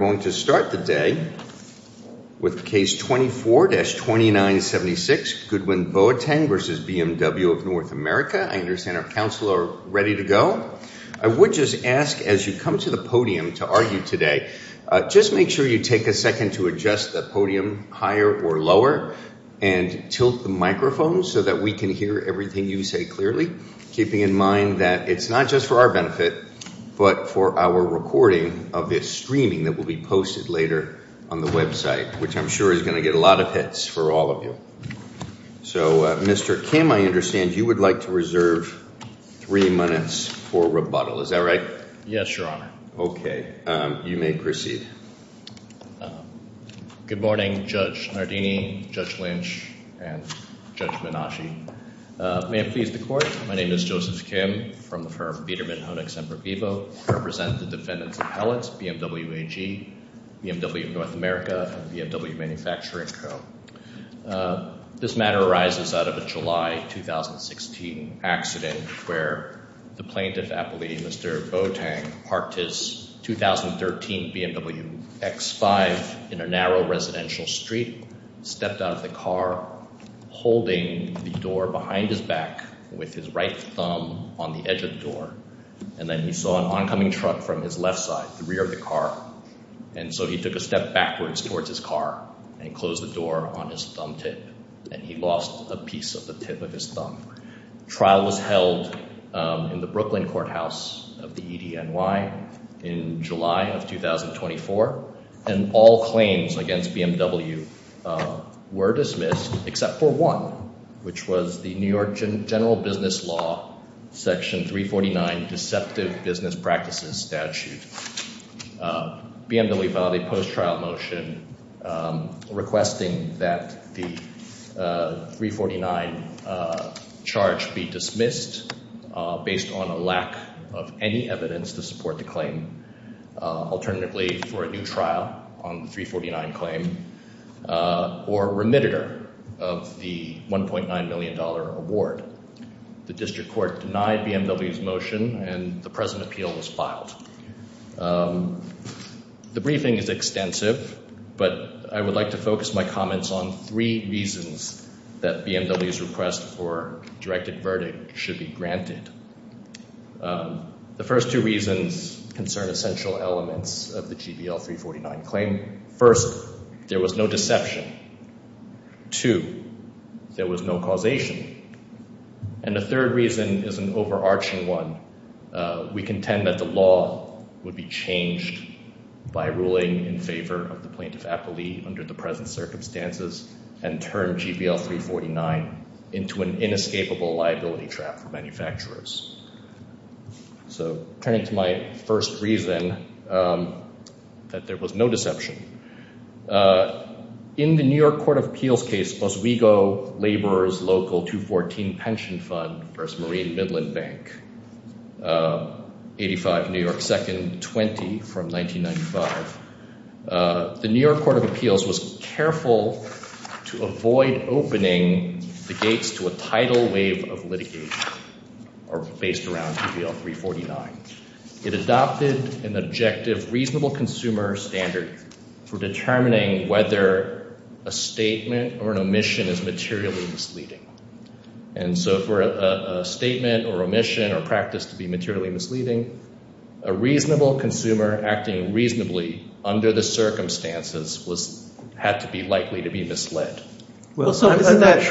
We're going to start the day with case 24-2976, Goodwin Boateng v. BMW of North America. I understand our counsel are ready to go. I would just ask as you come to the podium to argue today, just make sure you take a second to adjust the podium higher or lower and tilt the microphone so that we can hear everything you say clearly, keeping in mind that it's not just for our benefit, but for our recording of this streaming that will be posted later on the website, which I'm sure is going to get a lot of hits for all of you. So Mr. Kim, I understand you would like to reserve three minutes for rebuttal. Is that right? Yes, Your Honor. Okay. You may proceed. Good morning, Judge Nardini, Judge Lynch, and Judge Menasche. May it please the Court, my name is Joseph Kim from the firm of Biedermann Honex and Vivo. I represent the defendants' appellants, BMW AG, BMW of North America, and BMW Manufacturing Co. This matter arises out of a July 2016 accident where the plaintiff, Appellee Mr. Boateng, parked his 2013 BMW X5 in a narrow residential street, stepped out of the car, holding the door behind his back with his right thumb on the edge of the door, and then he saw an oncoming truck from his left side, the rear of the car, and so he took a step backwards towards his car and closed the door on his thumb tip, and he lost a piece of the tip of his thumb. Trial was held in the Brooklyn Courthouse of the EDNY in July of 2024, and all claims against BMW were dismissed except for one, which was the New York General Business Law Section 349 Deceptive Business Practices Statute. BMW filed a post-trial motion requesting that the 349 charge be dismissed based on a lack of any evidence to support the claim, alternatively for a new trial on the 349 claim, or remitted her of the $1.9 million award. The district court denied BMW's motion, and the present appeal was filed. The briefing is extensive, but I would like to focus my comments on three reasons that BMW's request for directed verdict should be granted. The first two reasons concern essential elements of the GBL 349 claim. First, there was no deception. Two, there was no causation. And the third reason is an overarching one. We contend that the law would be changed by ruling in favor of the plaintiff aptly under the present circumstances, and turn GBL 349 into an inescapable liability trap for manufacturers. So turning to my first reason, that there was no deception. In the New York Court of Appeals case, Oswego Laborers Local 214 Pension Fund versus Marine was careful to avoid opening the gates to a tidal wave of litigation based around GBL 349. It adopted an objective reasonable consumer standard for determining whether a statement or an omission is materially misleading. And so for a statement or omission or practice to be materially misleading, a reasonable consumer acting reasonably under the circumstances had to be likely to be misled. Well, I'm not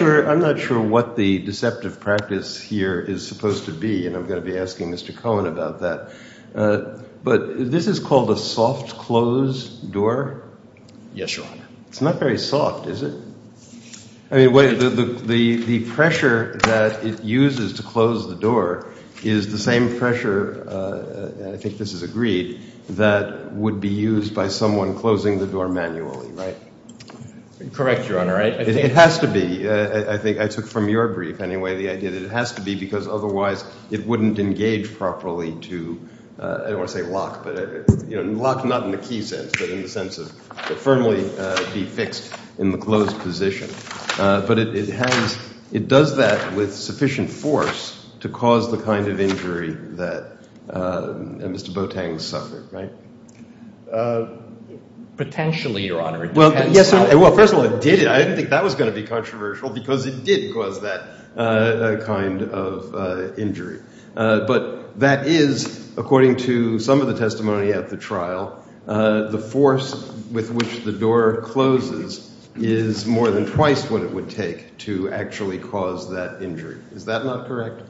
sure what the deceptive practice here is supposed to be, and I'm going to be asking Mr. Cohen about that. But this is called a soft close door? Yes, Your Honor. It's not very soft, is it? I mean, the pressure that it uses to close the door is the same pressure, and I think this is agreed, that would be used by someone closing the door manually. Right. Correct, Your Honor. Right? It has to be. I think I took from your brief, anyway, the idea that it has to be, because otherwise it wouldn't engage properly to, I don't want to say lock, but lock not in the key sense, but in the sense of firmly be fixed in the closed position. But it has, it does that with sufficient force to cause the kind of injury that Mr. Boateng suffered, right? Potentially, Your Honor. It depends. Well, first of all, it did it. I didn't think that was going to be controversial, because it did cause that kind of injury. But that is, according to some of the testimony at the trial, the force with which the door closes is more than twice what it would take to actually cause that injury. Is that not correct?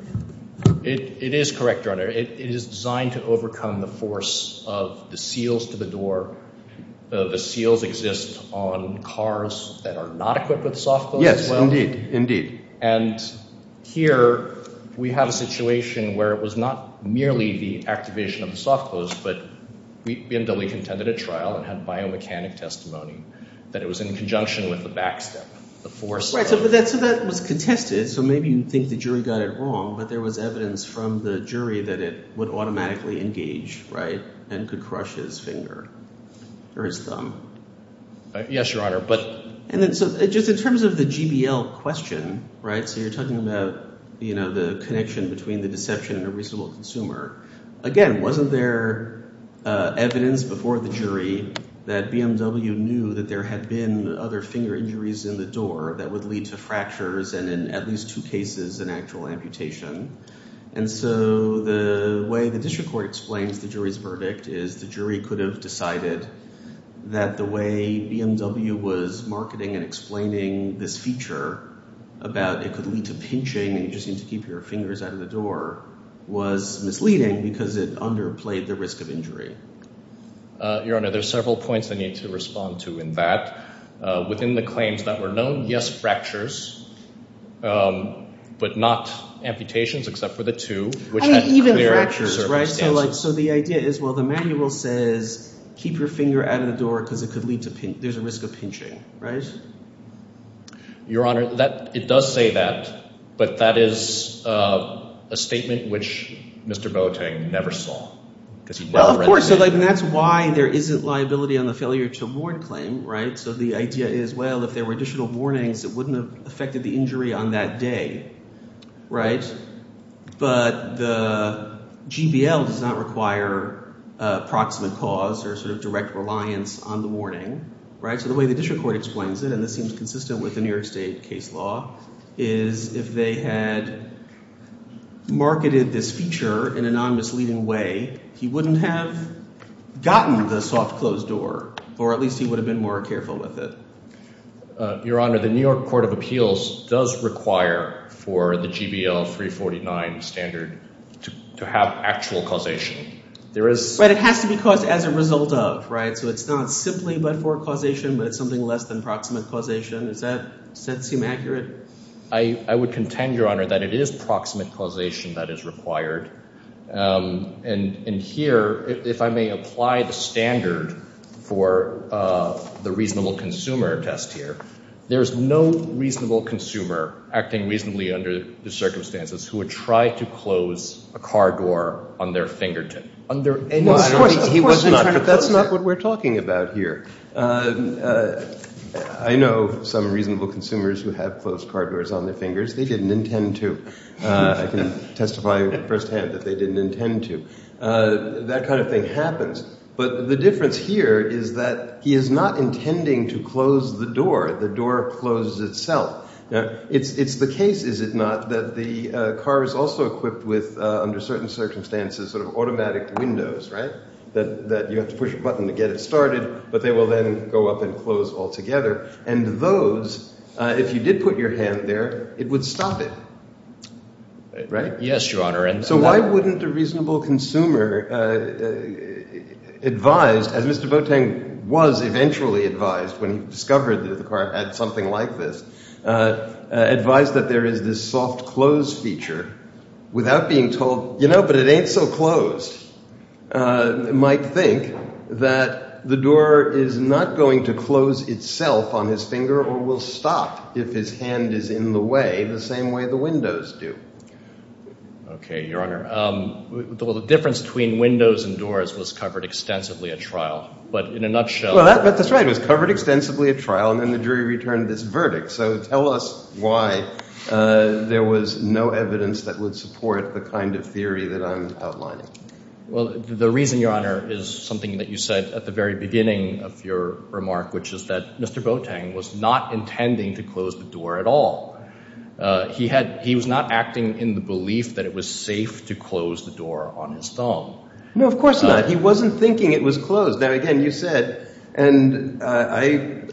It is correct, Your Honor. It is designed to overcome the force of the seals to the door. The seals exist on cars that are not equipped with soft-close as well. Yes. Indeed. And here, we have a situation where it was not merely the activation of the soft-close, but BMW contended at trial and had biomechanic testimony that it was in conjunction with the back step, the force step. So that was contested. So maybe you think the jury got it wrong, but there was evidence from the jury that it would automatically engage, right, and could crush his finger, or his thumb. Yes, Your Honor, but... And then, so just in terms of the GBL question, right, so you're talking about, you know, the connection between the deception and a reasonable consumer. Again, wasn't there evidence before the jury that BMW knew that there had been other finger injuries in the door that would lead to fractures and in at least two cases, an actual amputation? And so the way the district court explains the jury's verdict is the jury could have decided that the way BMW was marketing and explaining this feature about it could lead to pinching and you just need to keep your fingers out of the door was misleading because it underplayed the risk of injury. Your Honor, there's several points I need to respond to in that. Within the claims that were known, yes, fractures, but not amputations except for the two, which had clear circumstances. I mean, even fractures, right? So like, so the idea is, well, the manual says keep your finger out of the door because it could lead to pinch, there's a risk of pinching, right? Your Honor, that, it does say that, but that is a statement which Mr. Boateng never saw. Well, of course, and that's why there isn't liability on the failure to warn claim, right? So the idea is, well, if there were additional warnings, it wouldn't have affected the injury on that day, right? But the GBL does not require a proximate cause or sort of direct reliance on the warning, right? So the way the district court explains it, and this seems consistent with the New York State case law, is if they had marketed this feature in a non-misleading way, he wouldn't have gotten the soft closed door, or at least he would have been more careful with it. Your Honor, the New York Court of Appeals does require for the GBL 349 standard to have actual causation. There is... Right, it has to be caused as a result of, right? So it's not simply but for causation, but it's something less than proximate causation. Does that seem accurate? I would contend, Your Honor, that it is proximate causation that is required, and here, if I may apply the standard for the reasonable consumer test here, there is no reasonable consumer acting reasonably under the circumstances who would try to close a car door on their fingertip. No, of course not, but that's not what we're talking about here. I know some reasonable consumers who have closed car doors on their fingers, they didn't intend to. I can testify firsthand that they didn't intend to. That kind of thing happens, but the difference here is that he is not intending to close the door, the door closes itself. It's the case, is it not, that the car is also equipped with, under certain circumstances, sort of automatic windows, right, that you have to push a button to get it started, but they will then go up and close altogether, and those, if you did put your hand there, it would stop it. Right? Yes, Your Honor. And so why wouldn't a reasonable consumer advise, as Mr. Boateng was eventually advised when he discovered that the car had something like this, advise that there is this soft close feature without being told, you know, but it ain't so closed, might think that the door is not going to close itself on his finger or will stop if his hand is in the way the same way the windows do. Okay, Your Honor. The difference between windows and doors was covered extensively at trial, but in a nutshell Well, that's right. It was covered extensively at trial, and then the jury returned this verdict. So tell us why there was no evidence that would support the kind of theory that I'm Well, the reason, Your Honor, is something that you said at the very beginning of your remark, which is that Mr. Boateng was not intending to close the door at all. He was not acting in the belief that it was safe to close the door on his thumb. No, of course not. He wasn't thinking it was closed. Now, again, you said, and I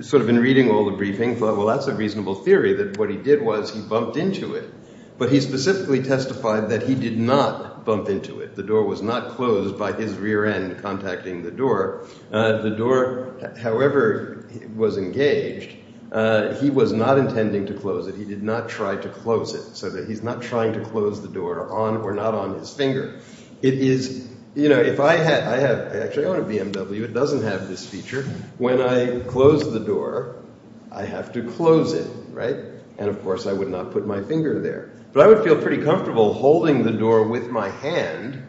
sort of in reading all the briefing thought, well, that's a reasonable theory that what he did was he bumped into it, but he specifically testified that he did not bump into it. The door was not closed by his rear end contacting the door. The door, however, was engaged. He was not intending to close it. He did not try to close it so that he's not trying to close the door on or not on his finger. It is, you know, if I had, I have actually own a BMW, it doesn't have this feature. When I close the door, I have to close it, right? And of course I would not put my finger there, but I would feel pretty comfortable holding the door with my hand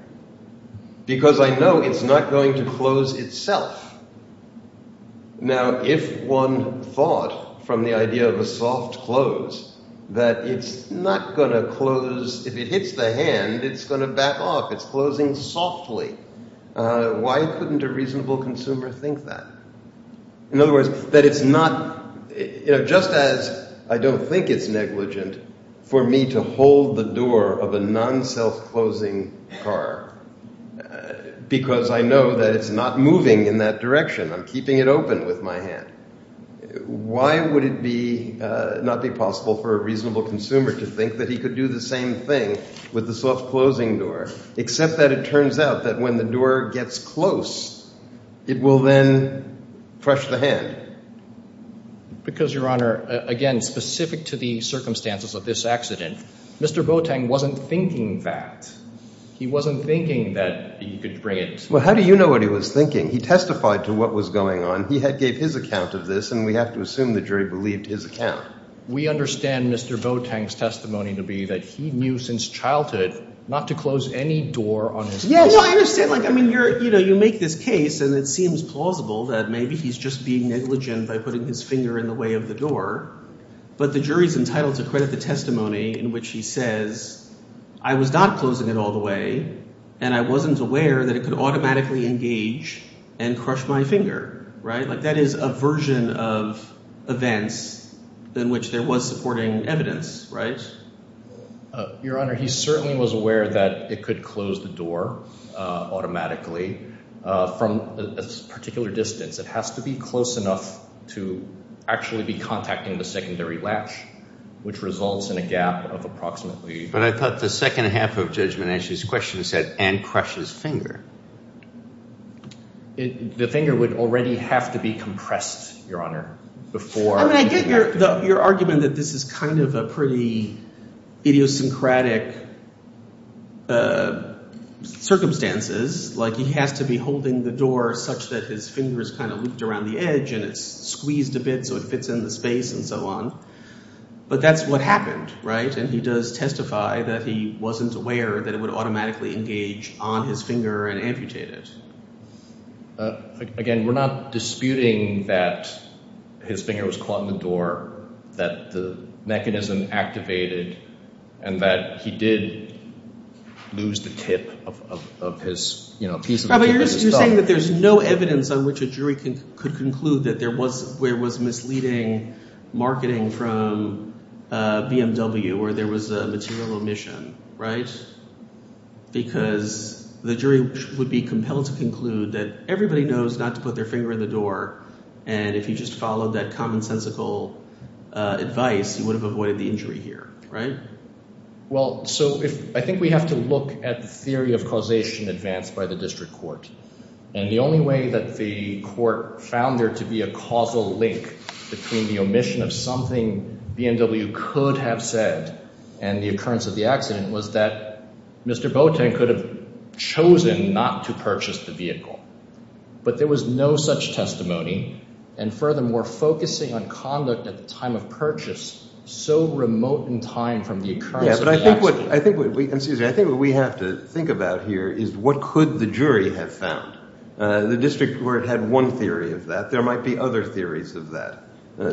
because I know it's not going to close itself. Now, if one thought from the idea of a soft close that it's not going to close, if it takes the hand, it's going to back off. It's closing softly. Why couldn't a reasonable consumer think that? In other words, that it's not, you know, just as I don't think it's negligent for me to hold the door of a non-self-closing car because I know that it's not moving in that direction. I'm keeping it open with my hand. Why would it be, not be possible for a reasonable consumer to think that he could do the same thing with the soft closing door, except that it turns out that when the door gets close, it will then crush the hand. Because Your Honor, again, specific to the circumstances of this accident, Mr. Boateng wasn't thinking that. He wasn't thinking that he could bring it. Well, how do you know what he was thinking? He testified to what was going on. He had gave his account of this, and we have to assume the jury believed his account. We understand Mr. Boateng's testimony to be that he knew since childhood not to close any door on his car. Yes, I understand. Like, I mean, you're, you know, you make this case and it seems plausible that maybe he's just being negligent by putting his finger in the way of the door, but the jury's entitled to credit the testimony in which he says, I was not closing it all the way, and I wasn't aware that it could automatically engage and crush my finger, right? Like, that is a version of events in which there was supporting evidence, right? Your Honor, he certainly was aware that it could close the door automatically from a particular distance. It has to be close enough to actually be contacting the secondary latch, which results in a gap of approximately... But I thought the second half of Judge Menachie's question said, and crush his finger. The finger would already have to be compressed, Your Honor, before... I mean, I get your argument that this is kind of a pretty idiosyncratic circumstances. Like, he has to be holding the door such that his finger is kind of looped around the edge and it's squeezed a bit so it fits in the space and so on. But that's what happened, right? And he does testify that he wasn't aware that it would automatically engage on his finger and amputate it. Again, we're not disputing that his finger was caught in the door, that the mechanism activated, and that he did lose the tip of his, you know, a piece of the tip of his thumb. But you're saying that there's no evidence on which a jury could conclude that there was misleading marketing from BMW, or there was a material omission, right? Because the jury would be compelled to conclude that everybody knows not to put their finger in the door, and if you just followed that commonsensical advice, you would have avoided the injury here, right? Well, so I think we have to look at the theory of causation advanced by the district court. And the only way that the court found there to be a causal link between the omission of something BMW could have said and the occurrence of the accident was that Mr. Boateng could have chosen not to purchase the vehicle. But there was no such testimony. And furthermore, focusing on conduct at the time of purchase so remote in time from the occurrence of the accident. Yeah, but I think what we have to think about here is what could the jury have found? The district court had one theory of that. There might be other theories of that.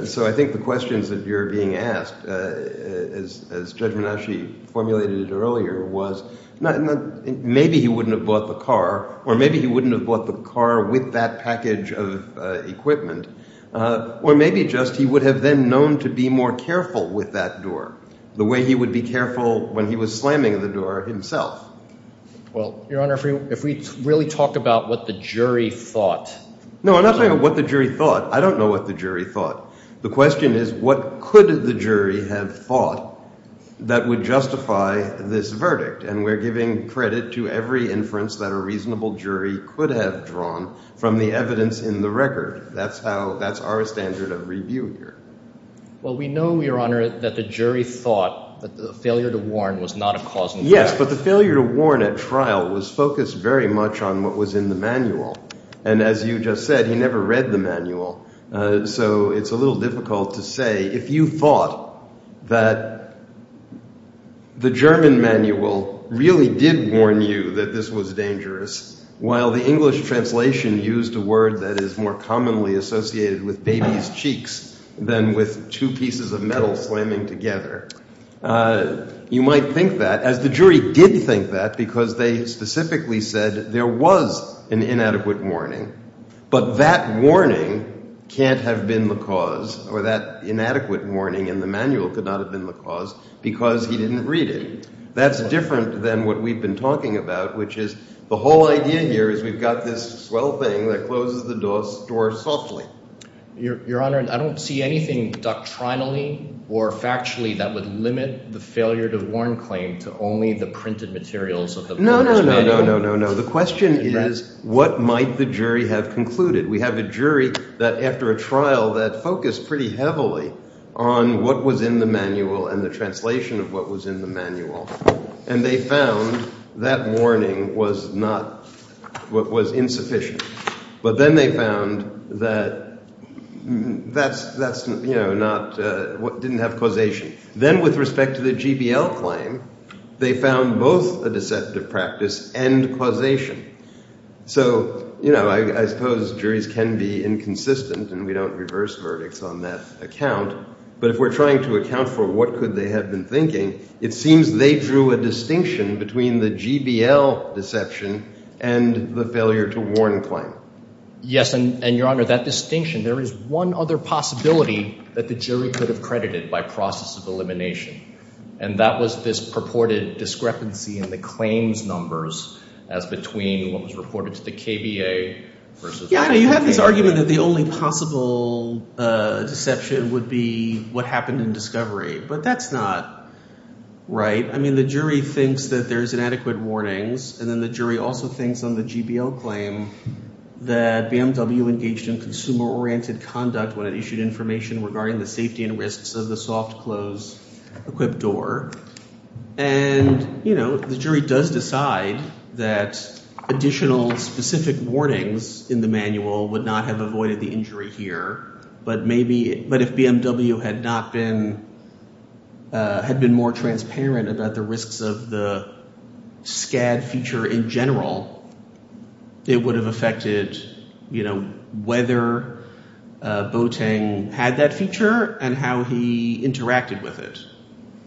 So I think the questions that you're being asked, as Judge Menasche formulated it earlier, was maybe he wouldn't have bought the car, or maybe he wouldn't have bought the car with that package of equipment, or maybe just he would have then known to be more careful with that door, the way he would be careful when he was slamming the door himself. Well, Your Honor, if we really talk about what the jury thought. No, I'm not talking about what the jury thought. I don't know what the jury thought. The question is, what could the jury have thought that would justify this verdict? And we're giving credit to every inference that a reasonable jury could have drawn from the evidence in the record. That's how, that's our standard of review here. Well, we know, Your Honor, that the jury thought that the failure to warn was not a cause in Yes, but the failure to warn at trial was focused very much on what was in the manual. And as you just said, he never read the manual. So it's a little difficult to say, if you thought that the German manual really did warn you that this was dangerous, while the English translation used a word that is more commonly associated with baby's cheeks than with two pieces of metal slamming together, you might think that, as the jury did think that, because they specifically said there was an inadequate warning. But that warning can't have been the cause, or that inadequate warning in the manual could not have been the cause, because he didn't read it. That's different than what we've been talking about, which is, the whole idea here is we've got this swell thing that closes the door softly. Your Honor, I don't see anything doctrinally or factually that would limit the failure to warn claim to only the printed materials of the manual. No, no, no, no, no, no. The question is, what might the jury have concluded? We have a jury that, after a trial, that focused pretty heavily on what was in the manual and the translation of what was in the manual. And they found that warning was insufficient. But then they found that that didn't have causation. Then with respect to the GBL claim, they found both a deceptive practice and causation. So I suppose juries can be inconsistent, and we don't reverse verdicts on that account. But if we're trying to account for what could they have been thinking, it seems they drew a distinction between the GBL deception and the failure to warn claim. Yes, and Your Honor, that distinction, there is one other possibility that the jury could have credited by process of elimination. And that was this purported discrepancy in the claims numbers as between what was reported to the KBA versus what the KBA did. Yes, Your Honor, you have this argument that the only possible deception would be what happened in discovery. But that's not right. I mean, the jury thinks that there's inadequate warnings, and then the jury also thinks on the GBL claim that BMW engaged in consumer-oriented conduct when it issued information regarding the safety and risks of the soft-close equipped door. And you know, the jury does decide that additional specific warnings in the manual would not have avoided the injury here. But maybe, but if BMW had not been, had been more transparent about the risks of the SCAD feature in general, it would have affected, you know, whether Boateng had that feature and how he interacted with it,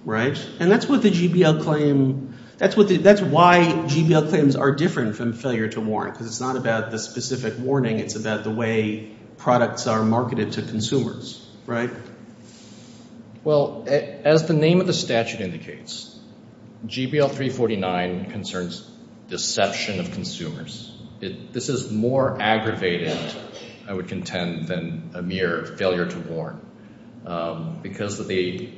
right? And that's what the GBL claim, that's what the, that's why GBL claims are different from failure to warn, because it's not about the specific warning, it's about the way products are marketed to consumers, right? Well, as the name of the statute indicates, GBL 349 concerns deception of consumers. This is more aggravated, I would contend, than a mere failure to warn, because of the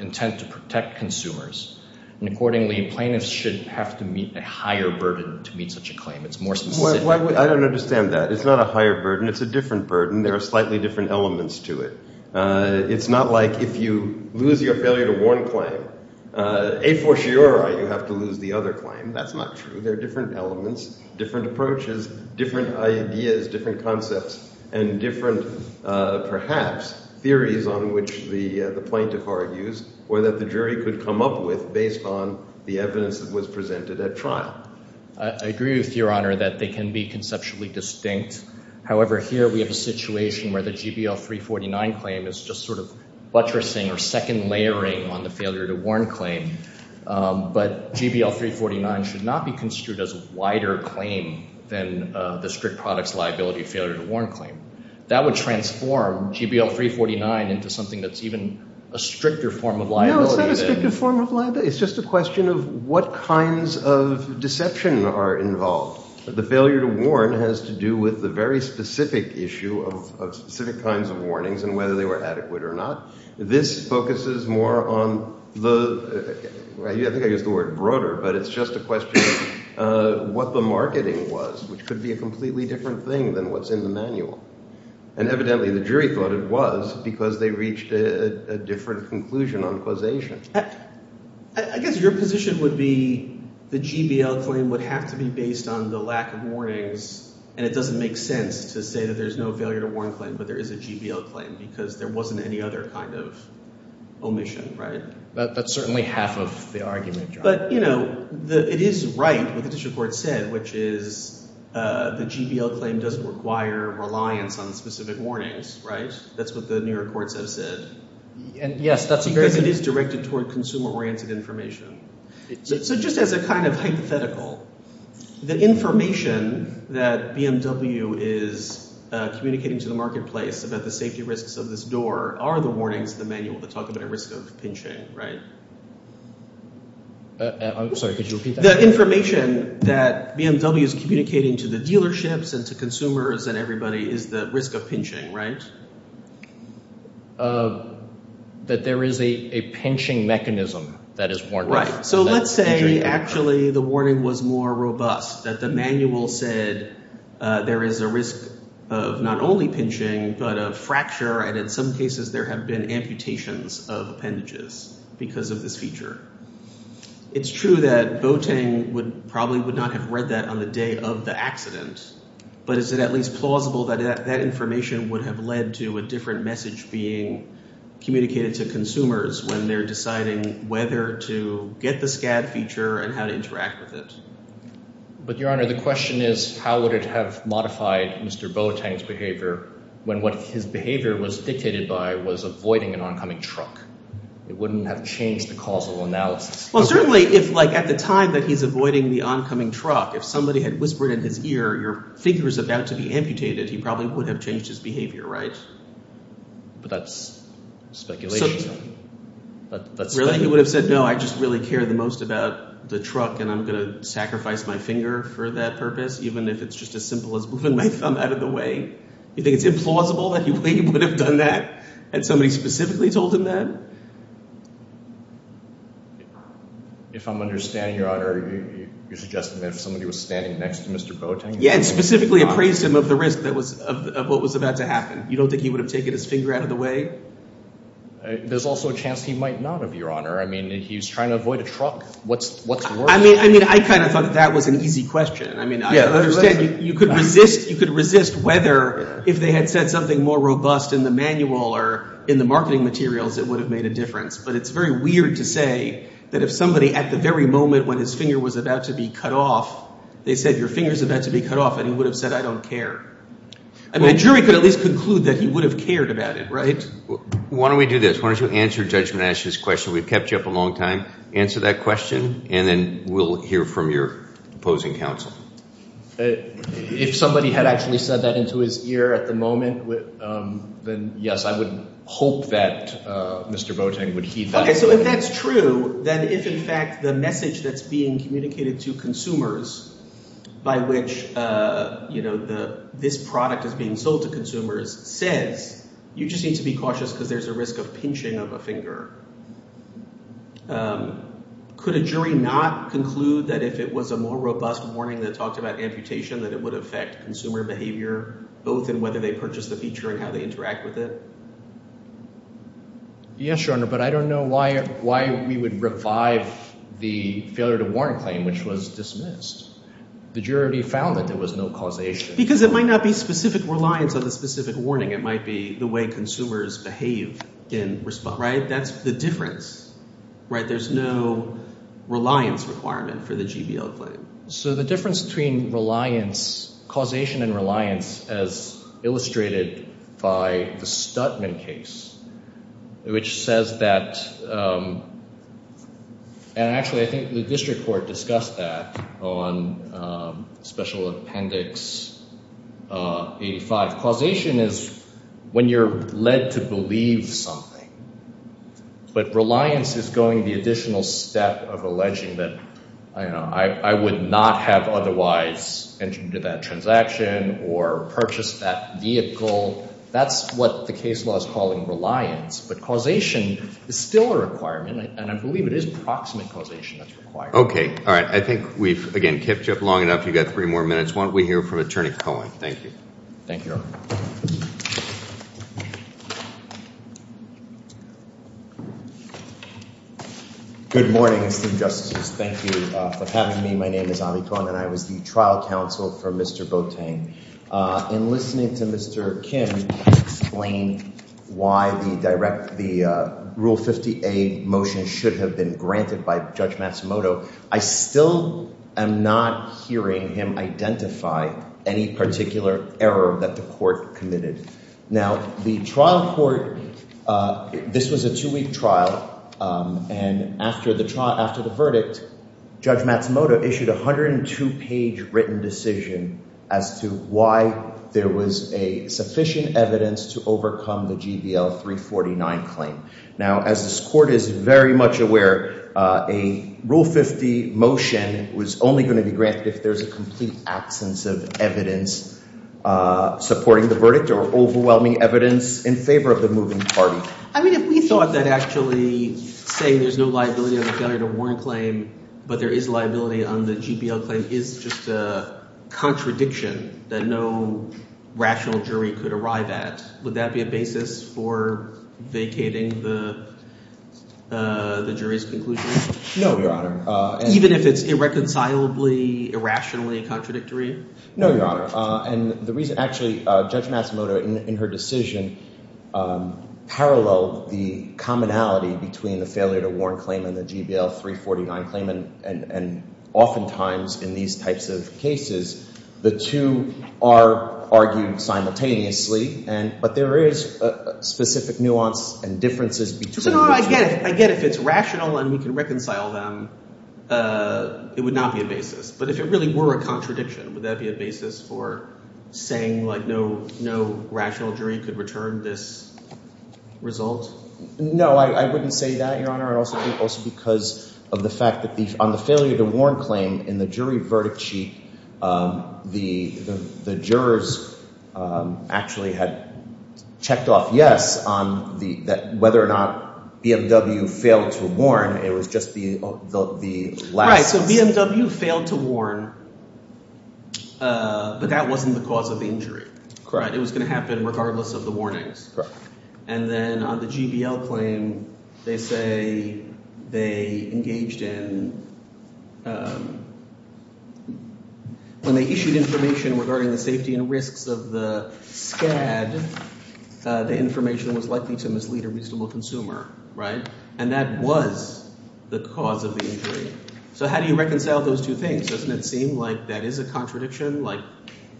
intent to protect consumers, and accordingly, plaintiffs should have to meet a higher burden to meet such a claim. It's more specific. I don't understand that. It's not a higher burden. It's a different burden. There are slightly different elements to it. It's not like if you lose your failure to warn claim, a fortiori, you have to lose the other claim. That's not true. There are different elements, different approaches, different ideas, different concepts, and different, perhaps, theories on which the plaintiff argues or that the jury could come up with based on the evidence that was presented at trial. I agree with Your Honor that they can be conceptually distinct. However, here we have a situation where the GBL 349 claim is just sort of buttressing or second layering on the failure to warn claim, but GBL 349 should not be construed as a wider claim than the strict products liability failure to warn claim. That would transform GBL 349 into something that's even a stricter form of liability. No, it's not a stricter form of liability. It's just a question of what kinds of deception are involved. The failure to warn has to do with the very specific issue of specific kinds of warnings and whether they were adequate or not. This focuses more on the, I think I used the word broader, but it's just a question of what the marketing was, which could be a completely different thing than what's in the manual. And evidently, the jury thought it was because they reached a different conclusion on causation. I guess your position would be the GBL claim would have to be based on the lack of warnings and it doesn't make sense to say that there's no failure to warn claim, but there is a GBL claim because there wasn't any other kind of omission, right? That's certainly half of the argument, Your Honor. But, you know, it is right what the district court said, which is the GBL claim doesn't require reliance on specific warnings, right? That's what the newer courts have said. And yes, that's a very... Because it is directed toward consumer-oriented information. So just as a kind of hypothetical, the information that BMW is communicating to the marketplace about the safety risks of this door are the warnings in the manual that talk about a risk of pinching, right? I'm sorry, could you repeat that? The information that BMW is communicating to the dealerships and to consumers and everybody is the risk of pinching, right? That there is a pinching mechanism that is warned. Right, so let's say actually the warning was more robust, that the manual said there is a risk of not only pinching, but a fracture and in some cases there have been amputations of appendages because of this feature. It's true that Boateng probably would not have read that on the day of the accident, but is it at least plausible that that information would have led to a different message being communicated to consumers when they're deciding whether to get the SCAD feature and how to interact with it? But Your Honor, the question is, how would it have modified Mr. Boateng's behavior when what his behavior was dictated by was avoiding an oncoming truck? It wouldn't have changed the causal analysis. Well, certainly if like at the time that he's avoiding the oncoming truck, if somebody had whispered in his ear, your figure is about to be amputated, he probably would have changed his behavior, right? But that's speculation. Really? He would have said, no, I just really care the most about the truck and I'm going to sacrifice my finger for that purpose, even if it's just as simple as moving my thumb out of the way? You think it's implausible that he would have done that and somebody specifically told him that? If I'm understanding, Your Honor, you're suggesting that if somebody was standing next to Mr. Boateng... Yeah, and specifically appraised him of the risk of what was about to happen. You don't think he would have taken his finger out of the way? There's also a chance he might not, Your Honor. I mean, he's trying to avoid a truck. What's worse? I mean, I kind of thought that was an easy question. I mean, I understand you could resist whether if they had said something more robust in the manual or in the marketing materials, it would have made a difference. But it's very weird to say that if somebody at the very moment when his finger was about to be cut off, they said, your finger's about to be cut off and he would have said, I don't care. I mean, a jury could at least conclude that he would have cared about it, right? Why don't we do this? Why don't you answer Judge Menache's question? We've kept you up a long time. Answer that question and then we'll hear from your opposing counsel. If somebody had actually said that into his ear at the moment, then yes, I would hope that Mr. Boateng would heed that. So if that's true, then if in fact the message that's being communicated to consumers by which this product is being sold to consumers says, you just need to be cautious because there's a risk of pinching of a finger. Could a jury not conclude that if it was a more robust warning that talked about amputation, that it would affect consumer behavior both in whether they purchase the feature and how they interact with it? Yes, Your Honor, but I don't know why we would revive the failure to warn claim, which was dismissed. The jury found that there was no causation. Because it might not be specific reliance on the specific warning. It might be the way consumers behave in response, right? That's the difference, right? There's no reliance requirement for the GBO claim. So the difference between reliance, causation and reliance as illustrated by the Stuttman case, which says that, and actually I think the district court discussed that on Special Appendix 85. Causation is when you're led to believe something. But reliance is going the additional step of alleging that, you know, I would not have otherwise entered into that transaction or purchased that vehicle. That's what the case law is calling reliance. But causation is still a requirement, and I believe it is proximate causation that's required. Okay. All right. I think we've, again, kept you up long enough. You've got three more minutes. Why don't we hear from Attorney Cohen? Thank you. Thank you, Your Honor. Good morning, esteemed justices. Thank you for having me. My name is Avi Cohen, and I was the trial counsel for Mr. Boateng. In listening to Mr. Kim explain why the Rule 50A motion should have been granted by Judge Matsumoto, I still am not hearing him identify any particular error that the court committed. Now, the trial court, this was a two-week trial, and after the verdict, Judge Matsumoto issued a 102-page written decision as to why there was sufficient evidence to overcome the GVL 349 claim. Now, as this court is very much aware, a Rule 50 motion was only going to be granted if there's a complete absence of evidence supporting the verdict or overwhelming evidence in favor of the moving party. I mean, if we thought that actually saying there's no liability on the failure to warn claim but there is liability on the GVL claim is just a contradiction that no rational jury could arrive at, would that be a basis for vacating the jury's conclusion? No, Your Honor. Even if it's irreconcilably, irrationally contradictory? No, Your Honor. Actually, Judge Matsumoto in her decision paralleled the commonality between the failure to warn claim and the GVL 349 claim, and oftentimes in these types of cases, the two are argued simultaneously, but there is specific nuance and differences between the two. So no, I get it. I get if it's rational and we can reconcile them, it would not be a basis. But if it really were a contradiction, would that be a basis for saying like no rational jury could return this result? No, I wouldn't say that, Your Honor. Your Honor, also because of the fact that on the failure to warn claim in the jury verdict sheet, the jurors actually had checked off yes on whether or not BMW failed to warn. It was just the last. Right. So BMW failed to warn, but that wasn't the cause of the injury. Correct. It was going to happen regardless of the warnings. Correct. And then on the GVL claim, they say they engaged in when they issued information regarding the safety and risks of the SCAD, the information was likely to mislead a reasonable consumer. Right. And that was the cause of the injury. So how do you reconcile those two things? Doesn't it seem like that is a contradiction? Like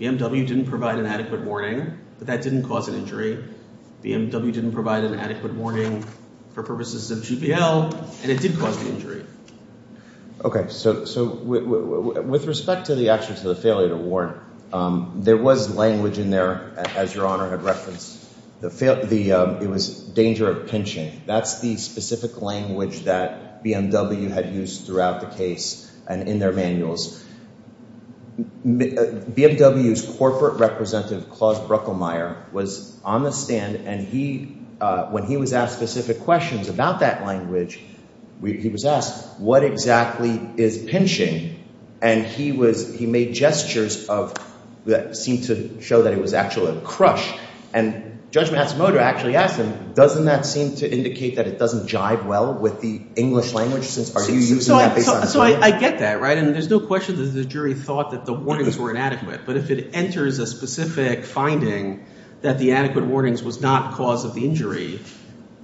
BMW didn't provide an adequate warning, but that didn't cause an injury. BMW didn't provide an adequate warning for purposes of GVL, and it did cause the injury. Okay. So with respect to the action to the failure to warn, there was language in there, as Your Honor had referenced. It was danger of pinching. That's the specific language that BMW had used throughout the case and in their manuals. BMW's corporate representative, Klaus Bruckelmeier, was on the stand, and when he was asked specific questions about that language, he was asked, what exactly is pinching? And he made gestures that seemed to show that it was actually a crush. And Judge Matsumoto actually asked him, doesn't that seem to indicate that it doesn't jive well with the English language? Are you using that based on theory? So I get that, right? And there's no question that the jury thought that the warnings were inadequate, but if it enters a specific finding that the adequate warnings was not cause of the injury,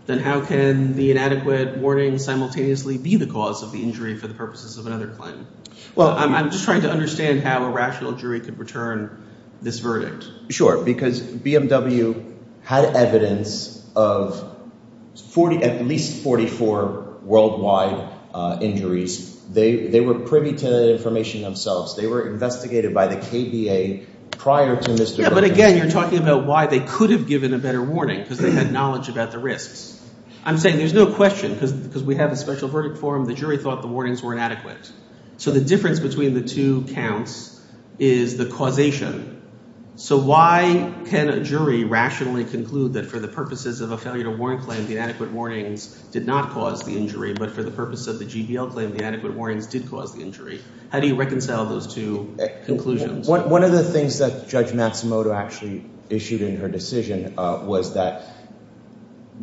then how can the inadequate warning simultaneously be the cause of the injury for the purposes of another claim? Well, I'm just trying to understand how a rational jury could return this verdict. Sure, because BMW had evidence of at least 44 worldwide injuries. They were privy to that information themselves. They were investigated by the KBA prior to Mr. Bruckelmeier. Yeah, but again, you're talking about why they could have given a better warning because they had knowledge about the risks. I'm saying there's no question because we have a special verdict for them. The jury thought the warnings were inadequate. So the difference between the two counts is the causation. So why can a jury rationally conclude that for the purposes of a failure to warrant claim, the adequate warnings did not cause the injury, but for the purpose of the GBL claim, the adequate warnings did cause the injury? How do you reconcile those two conclusions? One of the things that Judge Matsumoto actually issued in her decision was that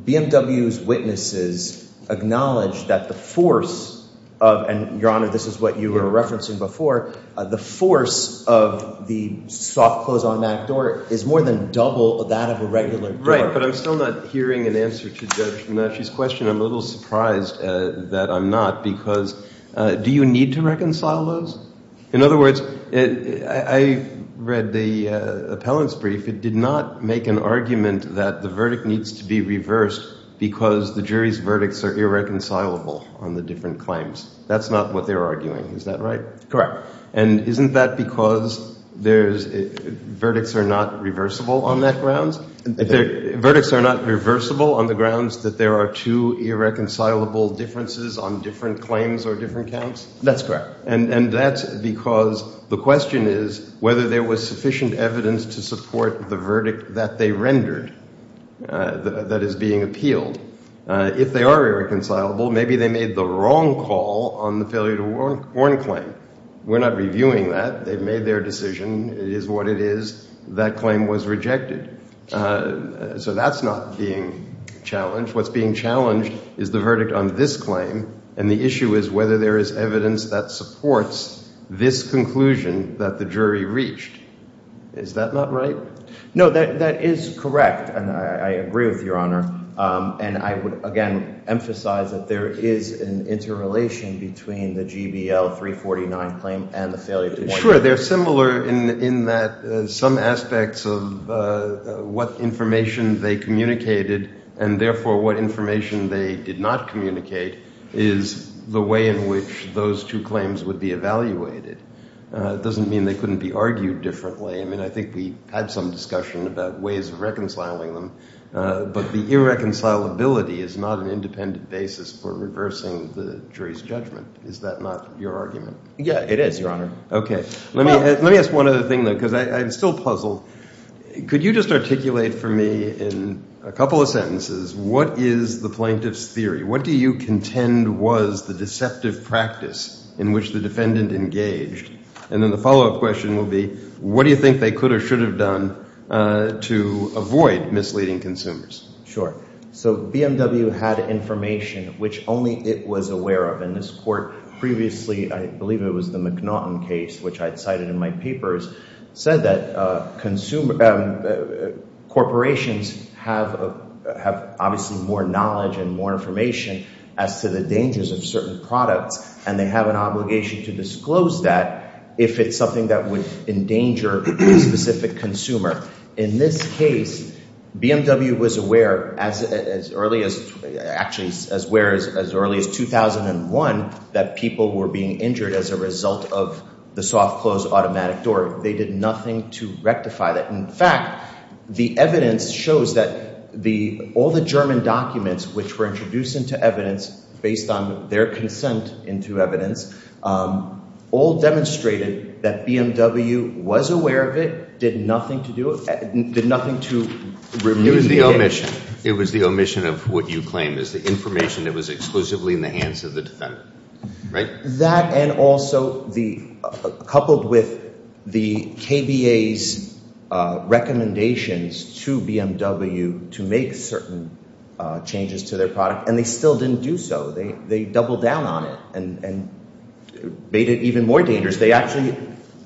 BMW's witnesses acknowledged that the force of— and, Your Honor, this is what you were referencing before— the force of the soft-close automatic door is more than double that of a regular door. Right, but I'm still not hearing an answer to Judge Matsumoto's question. I'm a little surprised that I'm not because—do you need to reconcile those? In other words, I read the appellant's brief. It did not make an argument that the verdict needs to be reversed because the jury's verdicts are irreconcilable on the different claims. That's not what they're arguing. Is that right? Correct. And isn't that because there's—verdicts are not reversible on that grounds? Verdicts are not reversible on the grounds that there are two irreconcilable differences on different claims or different counts? That's correct. And that's because the question is whether there was sufficient evidence to support the verdict that they rendered that is being appealed. If they are irreconcilable, maybe they made the wrong call on the failure to warn claim. We're not reviewing that. They've made their decision. It is what it is. That claim was rejected. So that's not being challenged. What's being challenged is the verdict on this claim, and the issue is whether there is evidence that supports this conclusion that the jury reached. Is that not right? No, that is correct, and I agree with Your Honor. And I would, again, emphasize that there is an interrelation between the GBL 349 claim and the failure to warn claim. Sure, they're similar in that some aspects of what information they communicated and, therefore, what information they did not communicate is the way in which those two claims would be evaluated. It doesn't mean they couldn't be argued differently. I mean I think we had some discussion about ways of reconciling them, but the irreconcilability is not an independent basis for reversing the jury's judgment. Is that not your argument? Yeah, it is, Your Honor. Okay. Let me ask one other thing, though, because I'm still puzzled. Could you just articulate for me in a couple of sentences what is the plaintiff's theory? What do you contend was the deceptive practice in which the defendant engaged? And then the follow-up question will be what do you think they could or should have done to avoid misleading consumers? Sure. So BMW had information which only it was aware of, and this court previously, I believe it was the McNaughton case, which I cited in my papers, said that corporations have obviously more knowledge and more information as to the dangers of certain products, and they have an obligation to disclose that if it's something that would endanger a specific consumer. In this case, BMW was aware as early as 2001 that people were being injured as a result of the soft-close automatic door. They did nothing to rectify that. In fact, the evidence shows that all the German documents which were introduced into evidence based on their consent into evidence all demonstrated that BMW was aware of it, did nothing to do it, did nothing to remove it. It was the omission. It was the omission of what you claim is the information that was exclusively in the hands of the defendant, right? That and also coupled with the KBA's recommendations to BMW to make certain changes to their product, and they still didn't do so. They doubled down on it and made it even more dangerous. They actually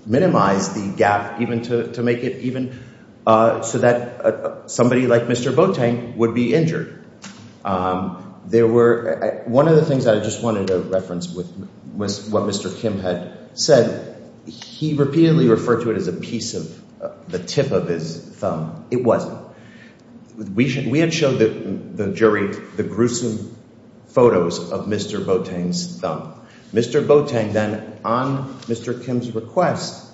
minimized the gap even to make it even so that somebody like Mr. Boateng would be injured. One of the things that I just wanted to reference was what Mr. Kim had said. He repeatedly referred to it as a piece of the tip of his thumb. It wasn't. We had showed the jury the gruesome photos of Mr. Boateng's thumb. Mr. Boateng then, on Mr. Kim's request,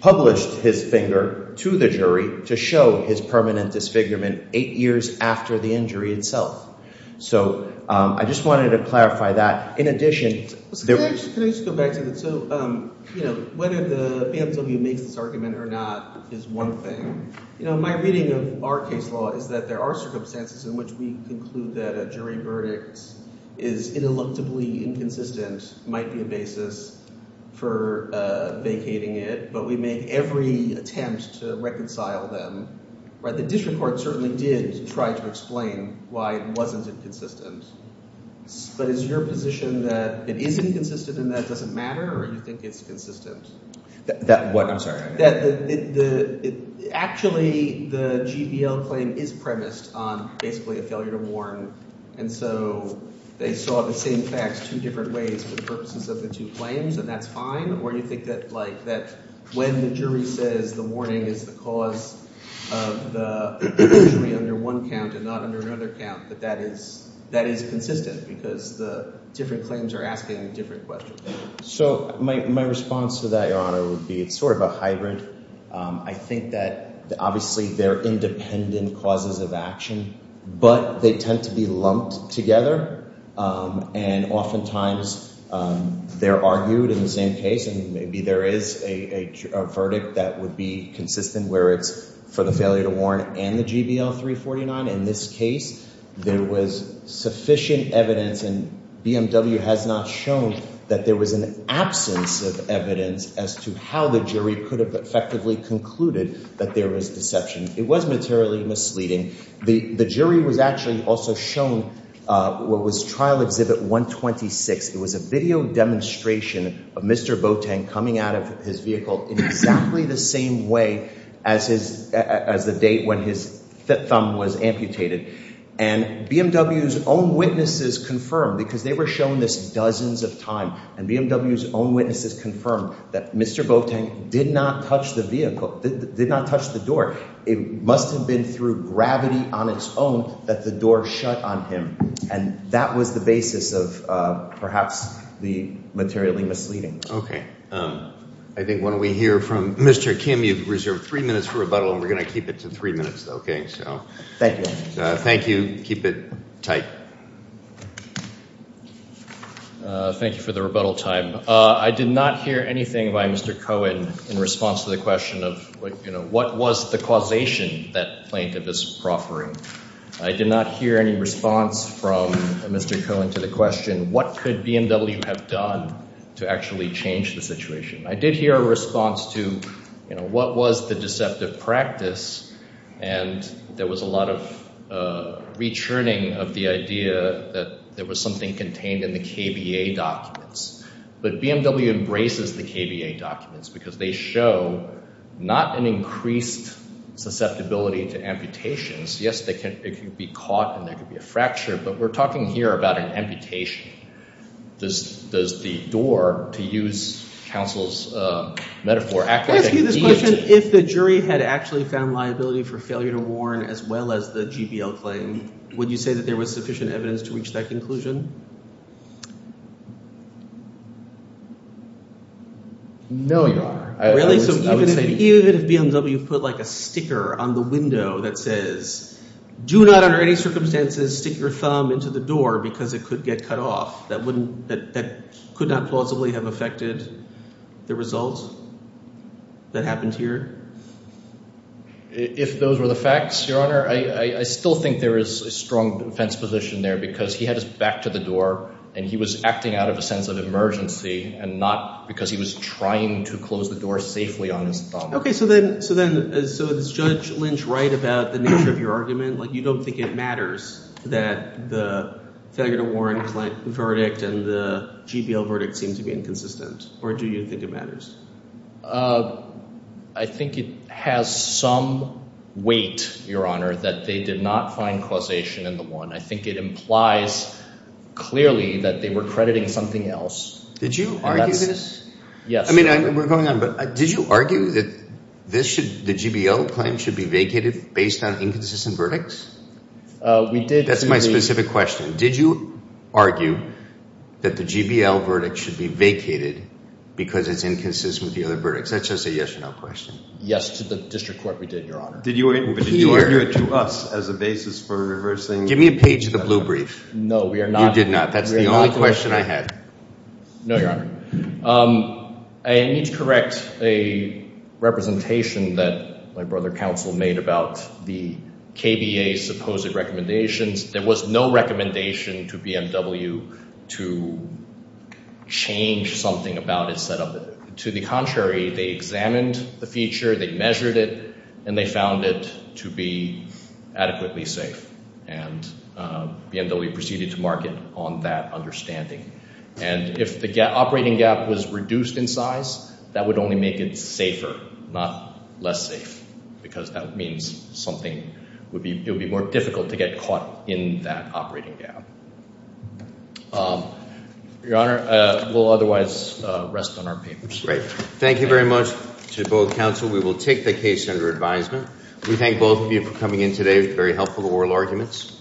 published his finger to the jury to show his permanent disfigurement eight years after the injury itself. So I just wanted to clarify that. Can I just go back to that? So whether the BMW makes this argument or not is one thing. My reading of our case law is that there are circumstances in which we conclude that a jury verdict is ineluctably inconsistent, might be a basis for vacating it. But we make every attempt to reconcile them. The district court certainly did try to explain why it wasn't inconsistent. But is your position that it isn't consistent and that it doesn't matter, or do you think it's consistent? That what? I'm sorry. Actually, the GBL claim is premised on basically a failure to warn. And so they saw the same facts two different ways for the purposes of the two claims, and that's fine? Or do you think that when the jury says the warning is the cause of the injury under one count and not under another count, that that is consistent because the different claims are asking different questions? So my response to that, Your Honor, would be it's sort of a hybrid. I think that obviously they're independent causes of action, but they tend to be lumped together. And oftentimes they're argued in the same case, and maybe there is a verdict that would be consistent where it's for the failure to warn and the GBL 349. In this case, there was sufficient evidence, and BMW has not shown that there was an absence of evidence as to how the jury could have effectively concluded that there was deception. It was materially misleading. The jury was actually also shown what was Trial Exhibit 126. It was a video demonstration of Mr. Boateng coming out of his vehicle in exactly the same way as the date when his thumb was amputated. And BMW's own witnesses confirmed, because they were shown this dozens of times, and BMW's own witnesses confirmed that Mr. Boateng did not touch the vehicle, did not touch the door. It must have been through gravity on its own that the door shut on him. And that was the basis of perhaps the materially misleading. I think why don't we hear from Mr. Kim. You've reserved three minutes for rebuttal, and we're going to keep it to three minutes, okay? Thank you. Thank you. Keep it tight. Thank you for the rebuttal time. I did not hear anything by Mr. Cohen in response to the question of what was the causation that plaintiff is proffering. I did not hear any response from Mr. Cohen to the question what could BMW have done to actually change the situation. I did hear a response to what was the deceptive practice, and there was a lot of rechurning of the idea that there was something contained in the KBA documents. But BMW embraces the KBA documents because they show not an increased susceptibility to amputations. Yes, it could be caught and there could be a fracture, but we're talking here about an amputation. Does the door, to use counsel's metaphor, act like a gate? Can I ask you this question? If the jury had actually found liability for failure to warn as well as the GBL claim, would you say that there was sufficient evidence to reach that conclusion? No, Your Honor. Really? So even if BMW put like a sticker on the window that says, do not under any circumstances stick your thumb into the door because it could get cut off, that could not plausibly have affected the result that happened here? If those were the facts, Your Honor, I still think there is a strong defense position there because he had his back to the door, and he was acting out of a sense of emergency and not because he was trying to close the door safely on his thumb. Okay. So then is Judge Lynch right about the nature of your argument? Like you don't think it matters that the failure to warn verdict and the GBL verdict seem to be inconsistent, or do you think it matters? I think it has some weight, Your Honor, that they did not find causation in the one. I think it implies clearly that they were crediting something else. Did you argue this? Yes. I mean, we're going on, but did you argue that the GBL claim should be vacated based on inconsistent verdicts? We did. That's my specific question. Did you argue that the GBL verdict should be vacated because it's inconsistent with the other verdicts? That's just a yes or no question. Yes, to the district court, we did, Your Honor. Did you argue it to us as a basis for reversing? Give me a page of the blue brief. No, we are not. You did not. That's the only question I had. No, Your Honor. I need to correct a representation that my brother counsel made about the KBA's supposed recommendations. There was no recommendation to BMW to change something about its setup. To the contrary, they examined the feature, they measured it, and they found it to be adequately safe, and BMW proceeded to market on that understanding. And if the operating gap was reduced in size, that would only make it safer, not less safe, because that means something would be—it would be more difficult to get caught in that operating gap. Your Honor, we'll otherwise rest on our papers. Great. Thank you very much to both counsel. We will take the case under advisement. We thank both of you for coming in today. Very helpful oral arguments.